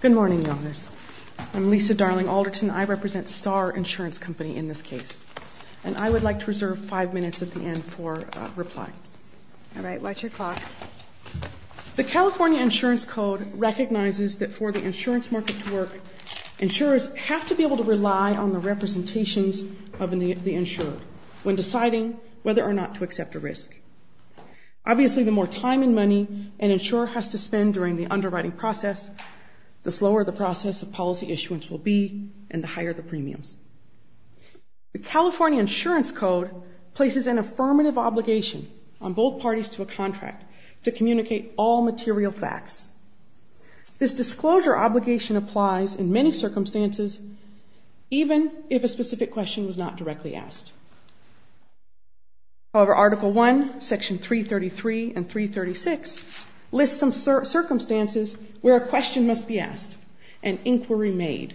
Good morning, Your Honors. I'm Lisa Darling Alderton. I represent Starr Insurance Company in this case. And I would like to reserve five minutes at the end for reply. All right. Watch your clock. The California Insurance Code recognizes that for the insurance market to work, insurers have to be able to rely on the representations of the insured when deciding whether or not to accept a risk. Obviously, the more time and money an insurer has to spend during the underwriting process, the slower the process of policy issuance will be and the higher the premiums. The California Insurance Code places an affirmative obligation on both parties to a contract to communicate all material facts. This disclosure obligation applies in many circumstances, even if a specific question was not directly asked. However, Article I, Section 333 and 336 list some circumstances where a question must be asked, an inquiry made,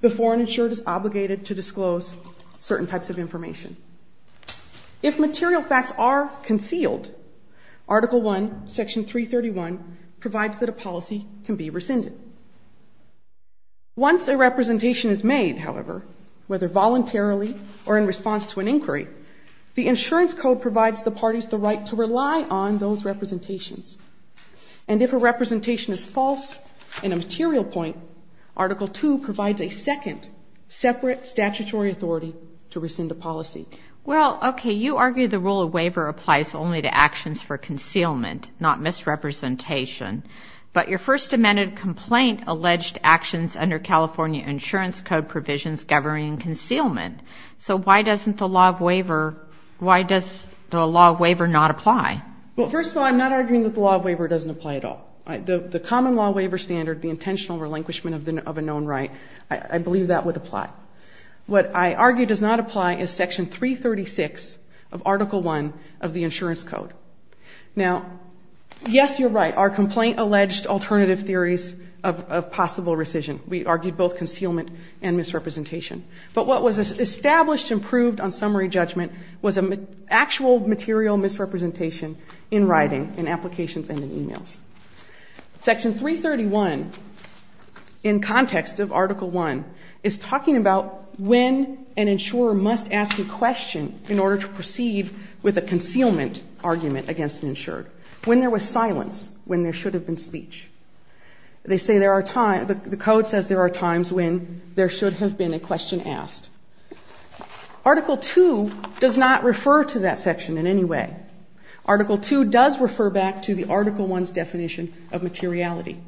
before an insured is obligated to disclose certain types of information. If material facts are concealed, Article I, Section 331 provides that a policy can be rescinded. Once a representation is made, however, whether voluntarily or in response to an inquiry, the insurance code provides the parties the right to rely on those representations. And if a representation is false in a material point, Article II provides a second, separate statutory authority to rescind a policy. Well, okay, you argue the rule of waiver applies only to actions for concealment, not misrepresentation. But your First Amendment complaint alleged actions under California Insurance Code provisions governing concealment. So why doesn't the law of waiver, why does the law of waiver not apply? Well, first of all, I'm not arguing that the law of waiver doesn't apply at all. The common law waiver standard, the intentional relinquishment of a known right, I believe that would apply. What I argue does not apply is Section 336 of Article I of the Insurance Code. Now, yes, you're right, our complaint alleged alternative theories of possible rescission. We argued both concealment and misrepresentation. But what was established and proved on summary judgment was an actual material misrepresentation in writing, in applications and in e-mails. Section 331, in context of Article I, is talking about when an insurer must ask a question in order to proceed with a concealment argument against an insured. When there was silence, when there should have been speech. They say there are times, the code says there are times when there should have been a question asked. Article II does not refer to that section in any way. Article II does refer back to the Article I's definition of materiality.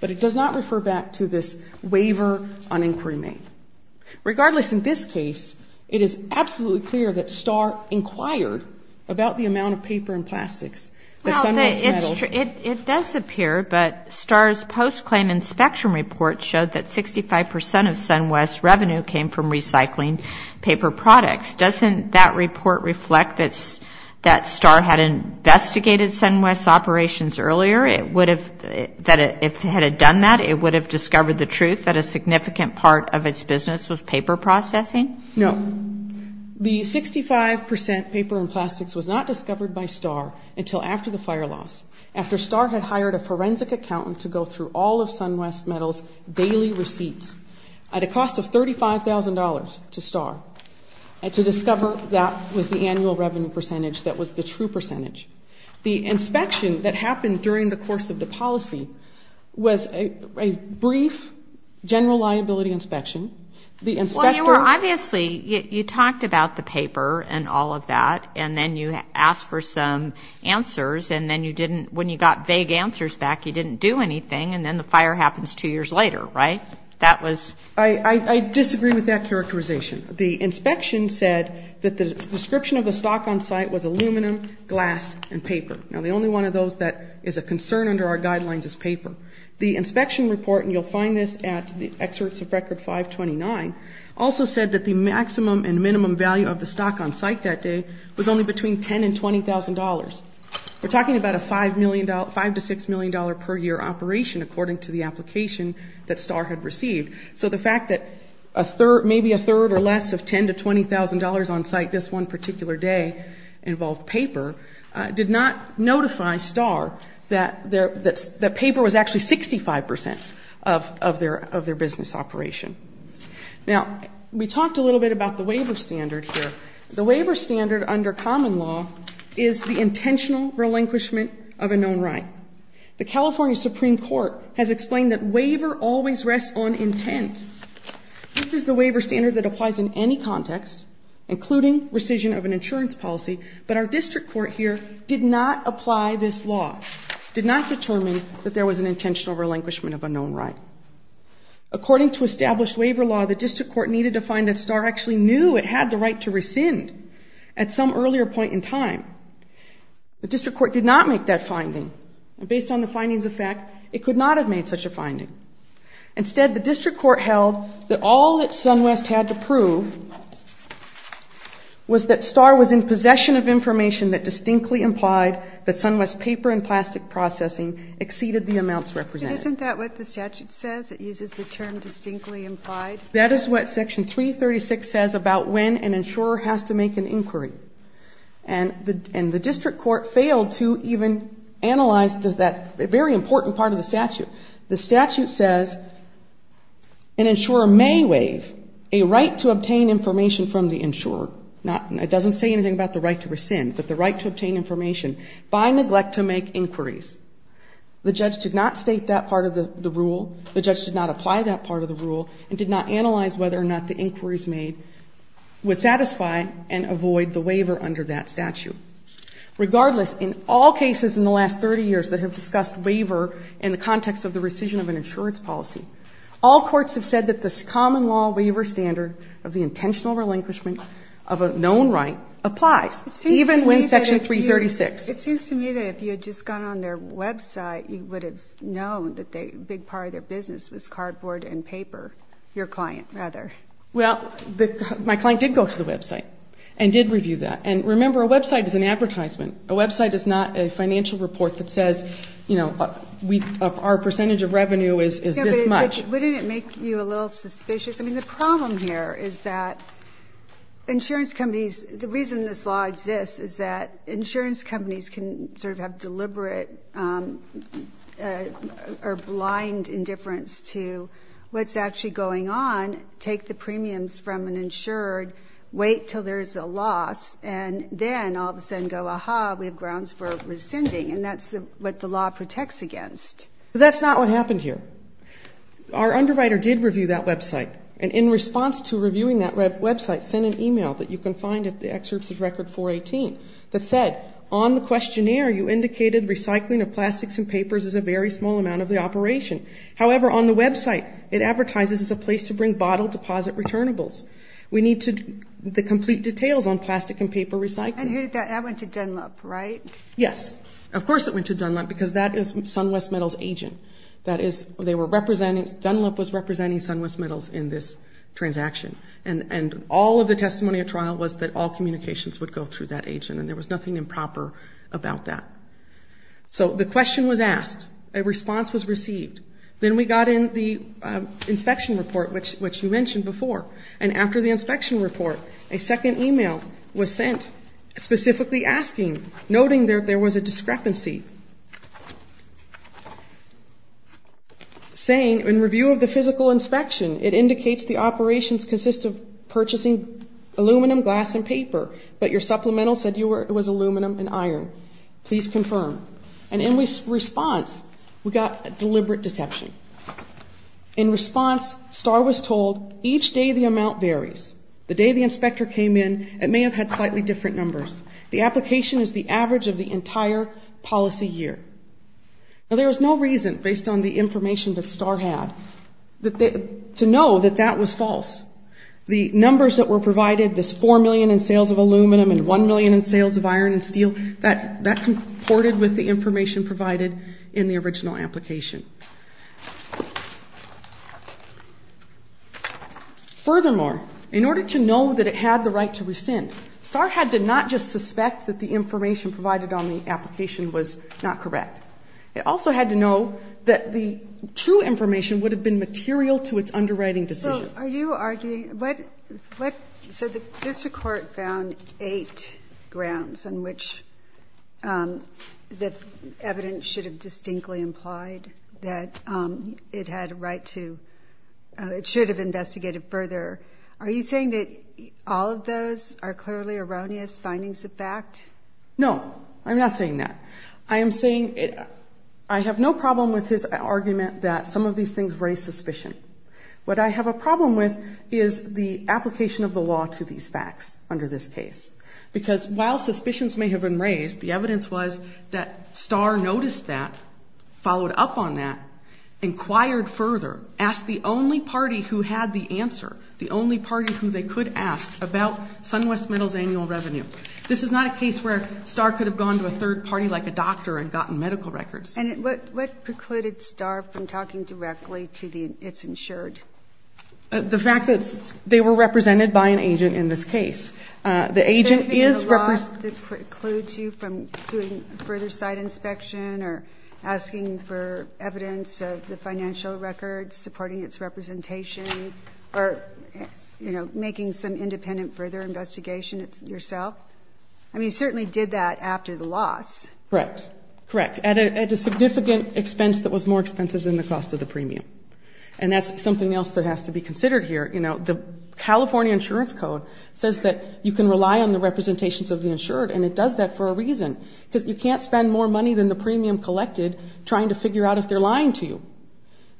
But it does not refer back to this waiver on inquiry made. Regardless, in this case, it is absolutely clear that STAAR inquired about the amount of paper and plastics that SunWest metals. It does appear, but STAAR's post-claim inspection report showed that 65 percent of SunWest's revenue came from recycling paper products. Doesn't that report reflect that STAAR had investigated SunWest's operations earlier? It would have, if it had done that, it would have discovered the truth that a significant part of its business was paper processing? No. The 65 percent paper and plastics was not discovered by STAAR until after the fire loss. After STAAR had hired a forensic accountant to go through all of SunWest metals daily receipts at a cost of $35,000 to STAAR to discover that was the annual revenue percentage, that was the true percentage. The inspection that happened during the course of the policy was a brief general liability inspection. The inspector ---- Well, you were obviously, you talked about the paper and all of that, and then you asked for some answers, and then you didn't, when you got vague answers back, you didn't do anything, and then the fire happens two years later, right? That was ---- I disagree with that characterization. The inspection said that the description of the stock on site was aluminum, glass, and paper. Now, the only one of those that is a concern under our guidelines is paper. The inspection report, and you'll find this at the excerpts of Record 529, also said that the maximum and minimum value of the stock on site that day was only between $10,000 and $20,000. We're talking about a $5 million, $5 to $6 million per year operation, according to the application that STAAR had received. So the fact that maybe a third or less of $10,000 to $20,000 on site this one particular day involved paper did not notify STAAR that paper was actually 65 percent of their business operation. Now, we talked a little bit about the waiver standard here. The waiver standard under common law is the intentional relinquishment of a known right. The California Supreme Court has explained that waiver always rests on intent. This is the waiver standard that applies in any context, including rescission of an insurance policy, but our district court here did not apply this law, did not determine that there was an intentional relinquishment of a known right. According to established waiver law, the district court needed to find that STAAR actually knew it had the right to rescind at some earlier point in time. The district court did not make that finding. Based on the findings of fact, it could not have made such a finding. Instead, the district court held that all that SunWest had to prove was that STAAR was in possession of information that distinctly implied that SunWest paper and plastic processing exceeded the amounts represented. Isn't that what the statute says? It uses the term distinctly implied? That is what Section 336 says about when an insurer has to make an inquiry. And the district court failed to even analyze that very important part of the statute. The statute says an insurer may waive a right to obtain information from the insurer. It doesn't say anything about the right to rescind, but the right to obtain information by neglect to make inquiries. The judge did not state that part of the rule. The judge did not apply that part of the rule and did not analyze whether or not the inquiries made would satisfy and avoid the waiver under that statute. Regardless, in all cases in the last 30 years that have discussed waiver in the context of the rescission of an insurance policy, all courts have said that the common law waiver standard of the intentional relinquishment of a known right applies, even when Section 336. It seems to me that if you had just gone on their website, you would have known that a big part of their business was cardboard and paper, your client rather. Well, my client did go to the website and did review that. And remember, a website is an advertisement. A website is not a financial report that says, you know, our percentage of revenue is this much. Wouldn't it make you a little suspicious? I mean, the problem here is that insurance companies, the reason this law exists is that insurance companies can sort of have deliberate or blind indifference to what's actually going on, take the premiums from an insured, wait until there's a loss, and then all of a sudden go, aha, we have grounds for rescinding, and that's what the law protects against. That's not what happened here. Our underwriter did review that website. And in response to reviewing that website, sent an e-mail that you can find at the excerpts of Record 418 that said, on the questionnaire, you indicated recycling of plastics and papers is a very small amount of the operation. However, on the website, it advertises as a place to bring bottle deposit returnables. We need the complete details on plastic and paper recycling. And that went to Dunlop, right? Yes. Of course it went to Dunlop because that is SunWest Metals' agent. That is, they were representing, Dunlop was representing SunWest Metals in this transaction. And all of the testimony at trial was that all communications would go through that agent, and there was nothing improper about that. So the question was asked. A response was received. Then we got in the inspection report, which you mentioned before. And after the inspection report, a second e-mail was sent specifically asking, noting that there was a discrepancy. Saying, in review of the physical inspection, it indicates the operations consist of purchasing aluminum, glass, and paper. But your supplemental said it was aluminum and iron. Please confirm. And in response, we got a deliberate deception. In response, Starr was told, each day the amount varies. The day the inspector came in, it may have had slightly different numbers. The application is the average of the entire policy year. Now, there was no reason, based on the information that Starr had, to know that that was false. The numbers that were provided, this 4 million in sales of aluminum and 1 million in sales of iron and steel, that comported with the information provided in the original application. Furthermore, in order to know that it had the right to rescind, Starr had to not just suspect that the information provided on the application was not correct. It also had to know that the true information would have been material to its underwriting decision. So are you arguing, what, so this report found eight grounds on which the evidence should have distinctly implied that the it had a right to, it should have investigated further. Are you saying that all of those are clearly erroneous findings of fact? No, I'm not saying that. I am saying, I have no problem with his argument that some of these things raise suspicion. What I have a problem with is the application of the law to these facts under this case. Because while suspicions may have been raised, the evidence was that Starr noticed that, followed up on that, inquired further, asked the only party who had the answer, the only party who they could ask about SunWest Metals annual revenue. This is not a case where Starr could have gone to a third party like a doctor and gotten medical records. And what precluded Starr from talking directly to its insured? The fact that they were represented by an agent in this case. The agent is represented. Is there a law that precludes you from doing further site inspection or asking for evidence of the financial records, supporting its representation, or, you know, making some independent further investigation yourself? I mean, you certainly did that after the loss. Correct, correct, at a significant expense that was more expensive than the cost of the premium. And that's something else that has to be considered here. You know, the California Insurance Code says that you can rely on the representations of the insured, and it does that for a reason, because you can't spend more money than the premium collected trying to figure out if they're lying to you.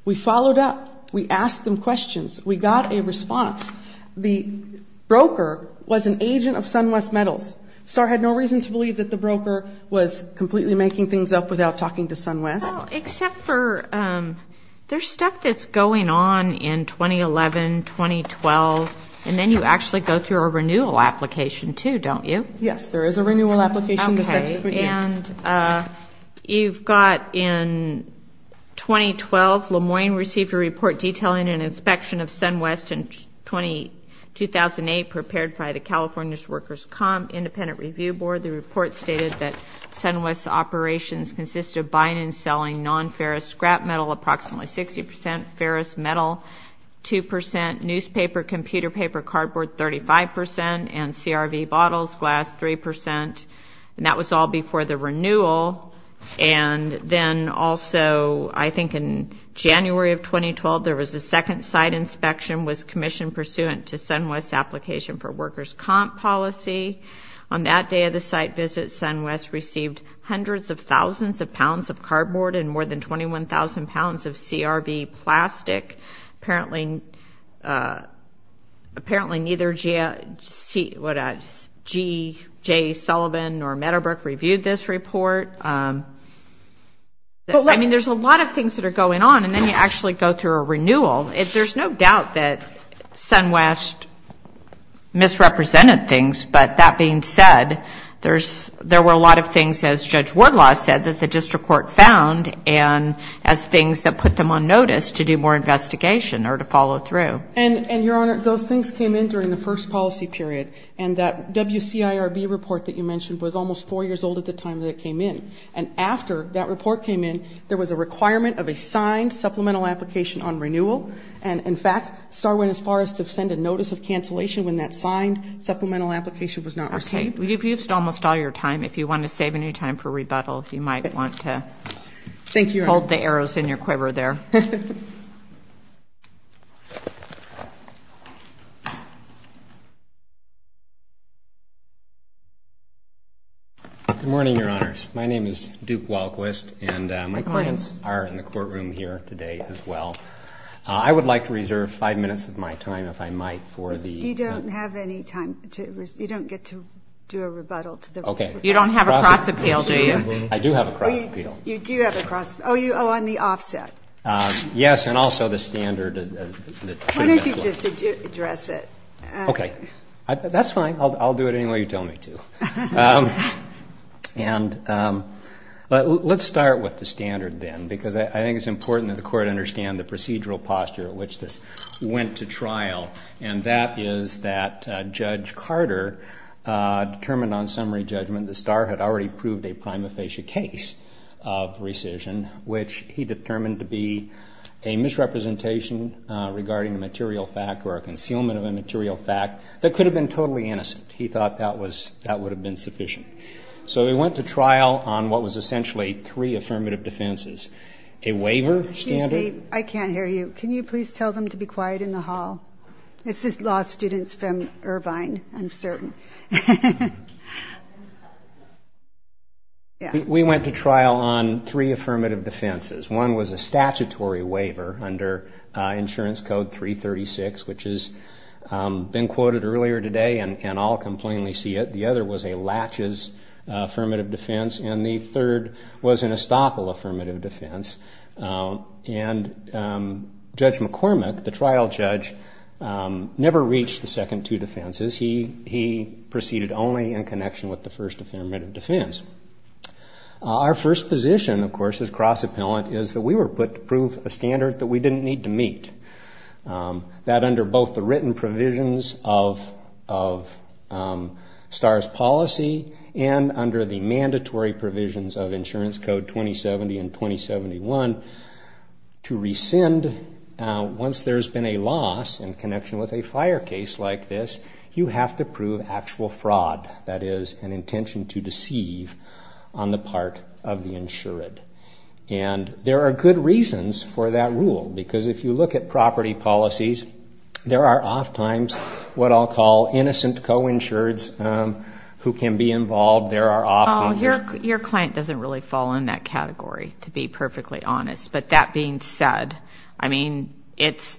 We followed up. We asked them questions. We got a response. The broker was an agent of SunWest Metals. Starr had no reason to believe that the broker was completely making things up without talking to SunWest. Except for there's stuff that's going on in 2011, 2012, and then you actually go through a renewal application, too, don't you? Yes, there is a renewal application. And you've got in 2012, Le Moyne received a report detailing an inspection of SunWest in 2008 prepared by the California Workers' Comp Independent Review Board. The report stated that SunWest's operations consisted of buying and selling non-ferrous scrap metal approximately 60 percent, ferrous metal 2 percent, newspaper, computer paper, cardboard 35 percent, and CRV bottles, glass 3 percent, and that was all before the renewal. And then also, I think in January of 2012, there was a second site inspection was commissioned pursuant to SunWest's application for workers' comp policy. On that day of the site visit, SunWest received hundreds of thousands of pounds of cardboard and more than 21,000 pounds of CRV plastic. Apparently neither G.J. Sullivan nor Meadowbrook reviewed this report. I mean, there's a lot of things that are going on, and then you actually go through a renewal. There's no doubt that SunWest misrepresented things, but that being said, there were a lot of things, as Judge Wardlaw said, that the district court found, and as things that put them on notice to do more investigation or to follow through. And, Your Honor, those things came in during the first policy period. And that WCIRB report that you mentioned was almost four years old at the time that it came in. And after that report came in, there was a requirement of a signed supplemental application on renewal. And, in fact, STAR went as far as to send a notice of cancellation when that signed supplemental application was not received. You've used almost all your time. If you want to save any time for rebuttal, you might want to hold the arrows in your quiver there. Good morning, Your Honors. My name is Duke Walquist, and my clients are in the courtroom here today as well. I would like to reserve five minutes of my time, if I might, for the... You don't have any time. You don't get to do a rebuttal. You don't have a cross-appeal, do you? I do have a cross-appeal. You do have a cross-appeal. Oh, on the offset. Yes, and also the standard... Why don't you just address it? Okay. That's fine. I'll do it any way you tell me to. Let's start with the standard then, because I think it's important that the Court understand the procedural posture in which this went to trial, and that is that Judge Carter determined on summary judgment that STAR had already proved a prima facie case of rescission, which he determined to be a misrepresentation regarding a material fact or a concealment of a material fact that could have been totally innocent. He thought that would have been sufficient. So we went to trial on what was essentially three affirmative defenses. Excuse me. I can't hear you. Can you please tell them to be quiet in the hall? This is law students from Irvine, I'm certain. We went to trial on three affirmative defenses. One was a statutory waiver under Insurance Code 336, which has been quoted earlier today, and all can plainly see it. The other was a latches affirmative defense, and the third was an estoppel affirmative defense. And Judge McCormick, the trial judge, never reached the second two defenses. He proceeded only in connection with the first affirmative defense. Our first position, of course, as cross-appellant, is that we were put to prove a standard that we didn't need to meet, that under both the written provisions of STAR's policy, and under the mandatory provisions of Insurance Code 2070 and 2071, to rescind once there's been a loss in connection with a fire case like this, you have to prove actual fraud, that is, an intention to deceive on the part of the insured. And there are good reasons for that rule, because if you look at property policies, there are oftentimes what I'll call innocent co-insureds who can be involved. Your client doesn't really fall in that category, to be perfectly honest. But that being said, I mean, it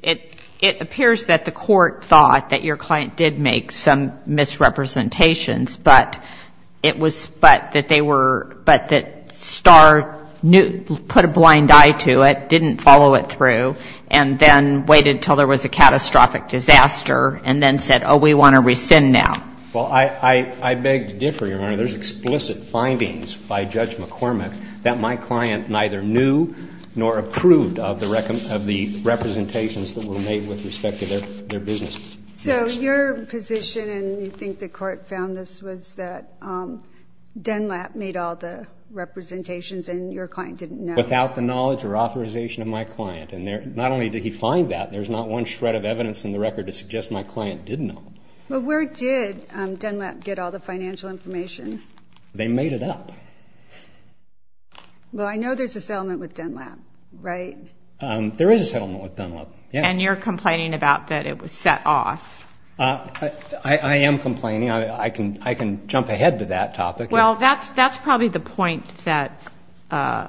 appears that the court thought that your client did make some misrepresentations, but it was that they were, but that STAR put a blind eye to it, didn't follow it through, and then waited until there was a catastrophic disaster, and then said, oh, we want to rescind now. There's explicit findings by Judge McCormick that my client neither knew nor approved of the representations that were made with respect to their business. So your position, and you think the court found this, was that DENLAP made all the representations and your client didn't know? Without the knowledge or authorization of my client. And not only did he find that, there's not one shred of evidence in the record to suggest my client did know. But where did DENLAP get all the financial information? They made it up. Well, I know there's a settlement with DENLAP, right? There is a settlement with DENLAP. And you're complaining about that it was set off. I am complaining. I can jump ahead to that topic. Well, that's probably the point that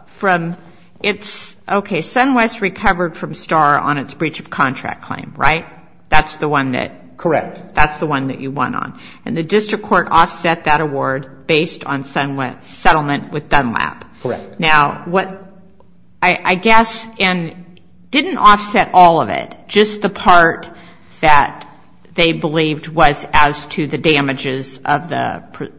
from its, okay, SunWest recovered from STAR on its breach of contract claim, right? That's the one that you won on. And the district court offset that award based on SunWest's settlement with DENLAP. Correct. Now, I guess, and didn't offset all of it, just the part that they believed was as to the damages of the,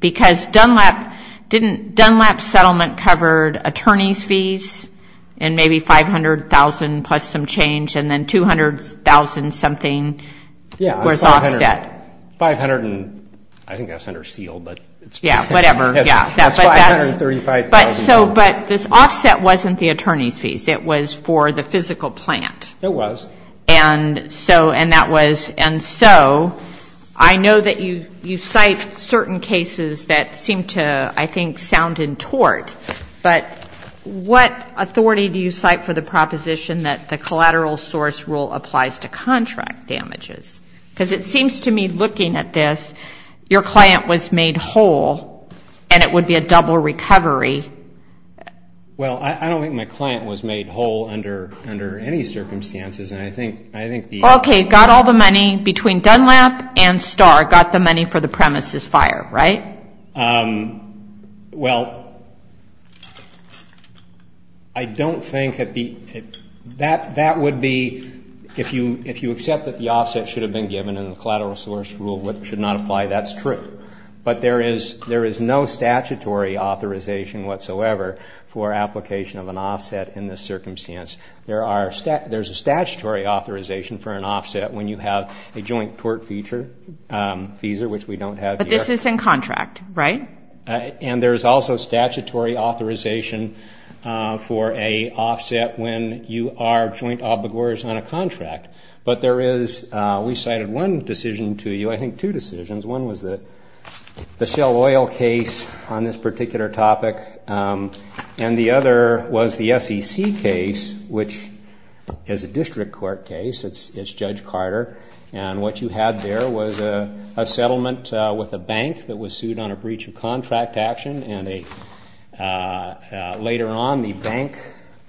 because DENLAP didn't, DENLAP's settlement covered attorney's fees and maybe $500,000 plus some change and then $200,000 something was offset. $500,000. I think that's under seal, but it's $535,000. But this offset wasn't the attorney's fees. It was for the physical plant. It was. And so I know that you cite certain cases that seem to, I think, sound in tort, but what authority do you cite for the proposition that the collateral source rule applies to contract damages? Because it seems to me looking at this, your client was made whole and it would be a double recovery. Well, I don't think my client was made whole under any circumstances. Okay. Got all the money between DENLAP and STAR. Got the money for the premises fire, right? Right. Well, I don't think that the, that would be, if you accept that the offset should have been given in the collateral source rule, which should not apply, that's true. But there is no statutory authorization whatsoever for application of an offset in this circumstance. There are, there's a statutory authorization for an offset when you have a joint tort feature, which we don't have here. But this is in contract, right? And there's also statutory authorization for a offset when you are joint obligors on a contract. But there is, we cited one decision to you, I think two decisions. One was the Shell Oil case on this particular topic. And the other was the SEC case, which is a district court case. It's Judge Carter. And what you had there was a settlement with a bank that was sued on a breach of contract action. And later on the bank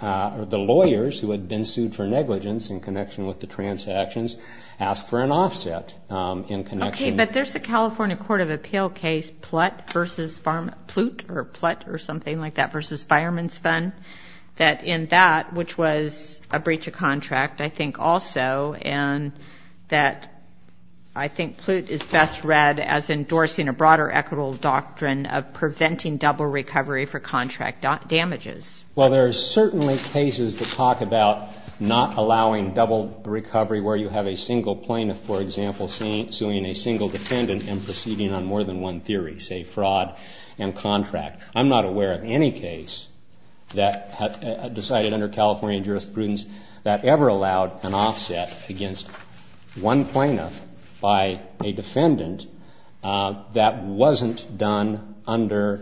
or the lawyers who had been sued for negligence in connection with the transactions asked for an offset in connection with the settlement. Okay. But there's a California Court of Appeal case, Plut versus, Plut or Plut or something like that versus Fireman's Fund, that in that, which was a breach of contract, I think also, and that I think Plut is best read as endorsing a broader equitable doctrine of preventing double recovery for contract damages. Well, there are certainly cases that talk about not allowing double recovery where you have a single plaintiff, for example, suing a single plaintiff. Or you have a single defendant and proceeding on more than one theory, say fraud and contract. I'm not aware of any case that decided under California jurisprudence that ever allowed an offset against one plaintiff by a defendant that wasn't done under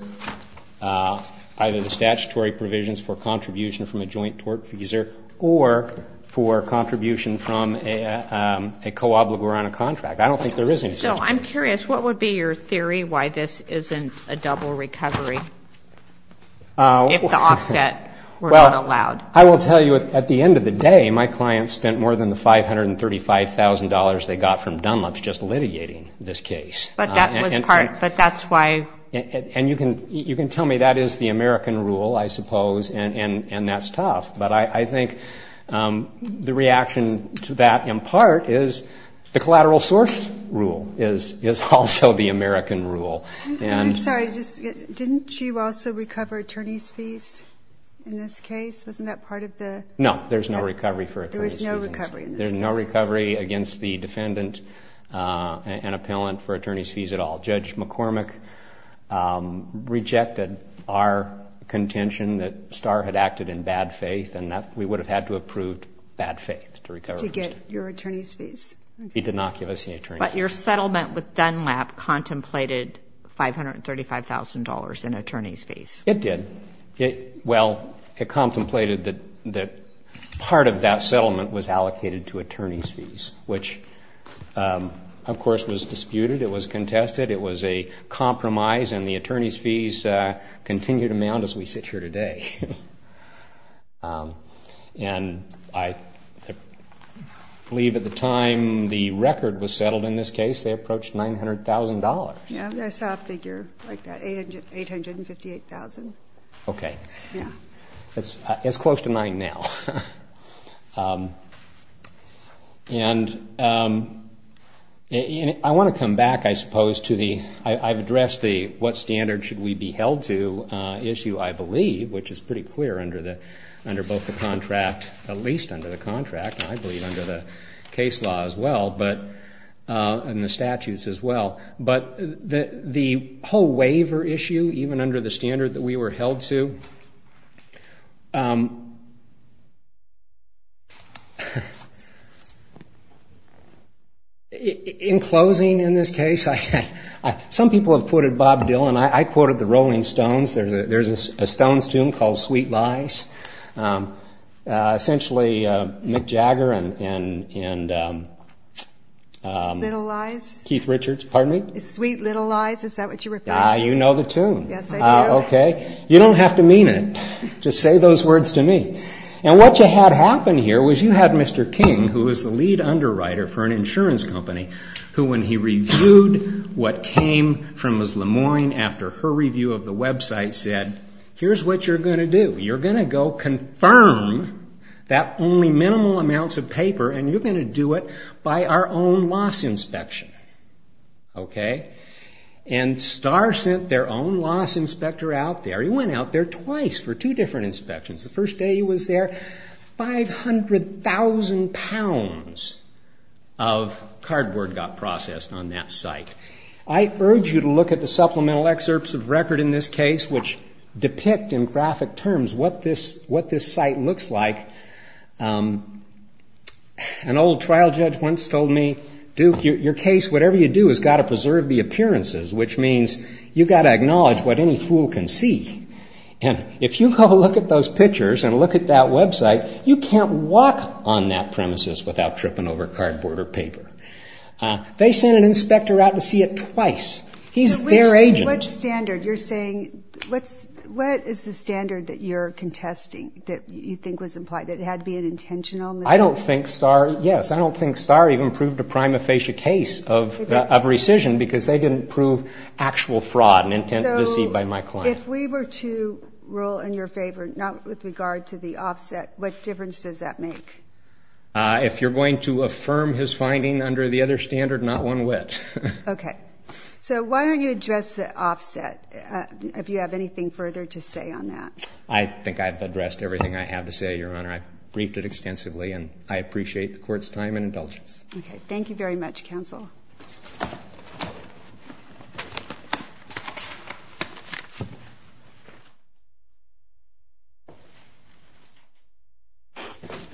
either the statutory provisions for contribution from a joint tort fees or for contribution from a co-obligor on a contract. I don't think there is any such case. So I'm curious, what would be your theory why this isn't a double recovery if the offset were not allowed? Well, I will tell you, at the end of the day, my client spent more than the $535,000 they got from Dunlop's just litigating this case. But that was part, but that's why. And you can tell me that is the American rule, I suppose, and that's tough. But I think the reaction to that, in part, is the collateral sort of thing. But this rule is also the American rule. I'm sorry, didn't you also recover attorney's fees in this case? Wasn't that part of the... No, there's no recovery for attorney's fees. There's no recovery against the defendant and appellant for attorney's fees at all. Judge McCormick rejected our contention that Starr had acted in bad faith and that we would have had to approve bad faith to recover. He did not give us any attorney's fees. But your settlement with Dunlop contemplated $535,000 in attorney's fees? It did. Well, it contemplated that part of that settlement was allocated to attorney's fees, which, of course, was disputed. It was contested. It was a compromise, and the attorney's fees continued to mount as we sit here today. And I believe at the time the record was settled in this case, they approached $900,000. Yes, I saw a figure like that, $858,000. Okay. It's close to mine now. And I want to come back, I suppose, to the... issue, I believe, which is pretty clear under both the contract, at least under the contract. I believe under the case law as well, and the statutes as well. But the whole waiver issue, even under the standard that we were held to... In closing in this case, some people have quoted Bob Dylan. I quoted the Rolling Stones. There's a Stones tune called Sweet Lies. Essentially Mick Jagger and... Little Lies? Keith Richards, pardon me? Sweet Little Lies, is that what you're referring to? You know the tune. Yes, I do. Okay. You don't have to mean it. Just say those words to me. And what you had happen here was you had Mr. King, who was the lead underwriter for an insurance company, who when he reviewed what came from his Lemoyne after her review of the website said, here's what you're going to do. You're going to go confirm that only minimal amounts of paper, and you're going to do it by our own loss inspection. And Star sent their own loss inspector out there. He went out there twice for two different inspections. The first day he was there, 500,000 pounds of cardboard got processed on that site. I urge you to look at the supplemental excerpts of record in this case, which depict in graphic terms what this site looks like. An old trial judge once told me, Duke, your case, whatever you do, has got to preserve the appearances, which means you've got to acknowledge what any fool can see. And if you go look at those pictures and look at that website, you can't walk on that premises without tripping over cardboard or paper. They sent an inspector out to see it twice. He's their agent. So what standard, you're saying, what is the standard that you're contesting that you think was implied, that it had to be an intentional mistake? I don't think Star, yes, I don't think Star even proved a prima facie case of rescission because they didn't prove actual fraud and intent to deceive by my client. So if we were to rule in your favor, not with regard to the offset, what difference does that make? If you're going to affirm his finding under the other standard, not one whit. Okay. So why don't you address the offset, if you have anything further to say on that. I think I've addressed everything I have to say, Your Honor. I've briefed it extensively, and I appreciate the Court's time and indulgence. I'd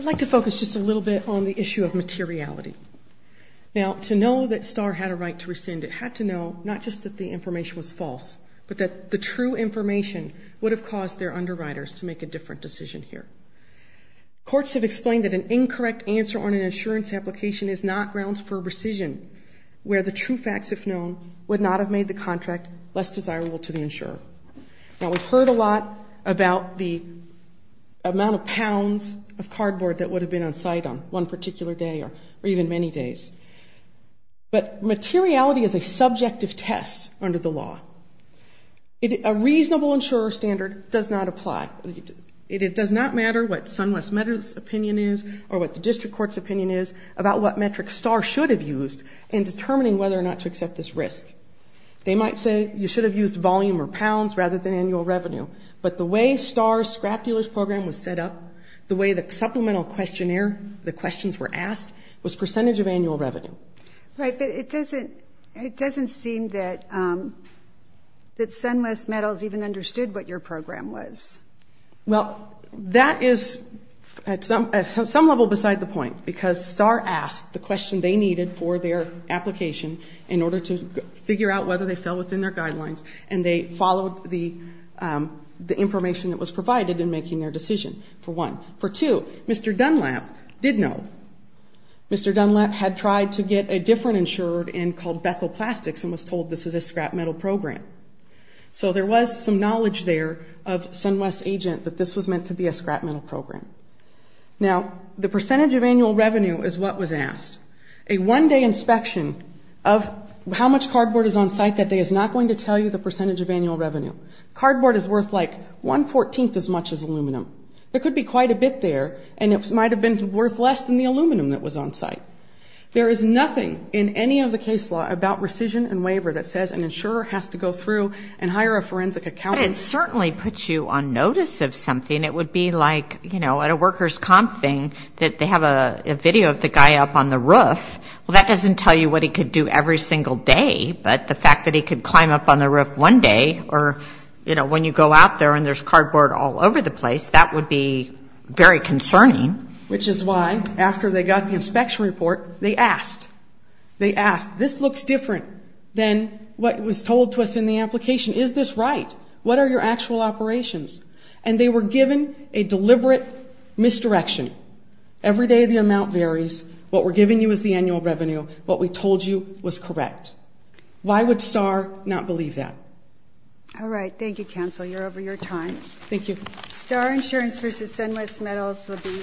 like to focus just a little bit on the issue of materiality. Now, to know that Star had a right to rescind, it had to know not just that the information was false, but that the true information would have caused their underwriters to make a different decision here. Courts have explained that an incorrect answer on an insurance application is not grounds for rescission, where the true facts, if known, would not have made the contract less desirable to the insurer. Now, we've heard a lot about the amount of pounds of cardboard that would have been on site on one particular day or even many days. But materiality is a subjective test under the law. A reasonable insurer standard does not apply. It does not matter what SunWest Med's opinion is or what the District Court's opinion is about what metric Star should have used in determining whether or not to accept this risk. They might say you should have used volume or pounds rather than annual revenue. But the way Star's scrap dealers program was set up, the way the supplemental questionnaire, the questions were asked, was percentage of annual revenue. Right, but it doesn't seem that SunWest Medals even understood what your program was. Well, that is at some level beside the point, because Star asked the question they needed for their application in order to figure out whether they fell within their guidelines and they followed the information that was provided in making their decision, for one. For two, Mr. Dunlap did know. Mr. Dunlap had tried to get a different insurer in called Bethel Plastics and was told this is a scrap metal program. So there was some knowledge there of SunWest's agent that this was meant to be a scrap metal program. Now, the percentage of annual revenue is what was asked. A one-day inspection of how much cardboard is on site that day is not going to tell you the percentage of annual revenue. Cardboard is worth like one-fourteenth as much as aluminum. There could be quite a bit there, and it might have been worth less than the aluminum that was on site. There is nothing in any of the case law about rescission and waiver that says an insurer has to go through and hire a forensic accountant. But it certainly puts you on notice of something. It would be like, you know, at a workers' comp thing that they have a video of the guy up on the roof. Well, that doesn't tell you what he could do every single day, but the fact that he could climb up on the roof one day or, you know, when you go out there and there's cardboard all over the place, that would be very concerning. Which is why, after they got the inspection report, they asked. They asked, this looks different than what was told to us in the application. Is this right? What are your actual operations? And they were given a deliberate misdirection. Every day the amount varies. What we're giving you is the annual revenue. What we told you was correct.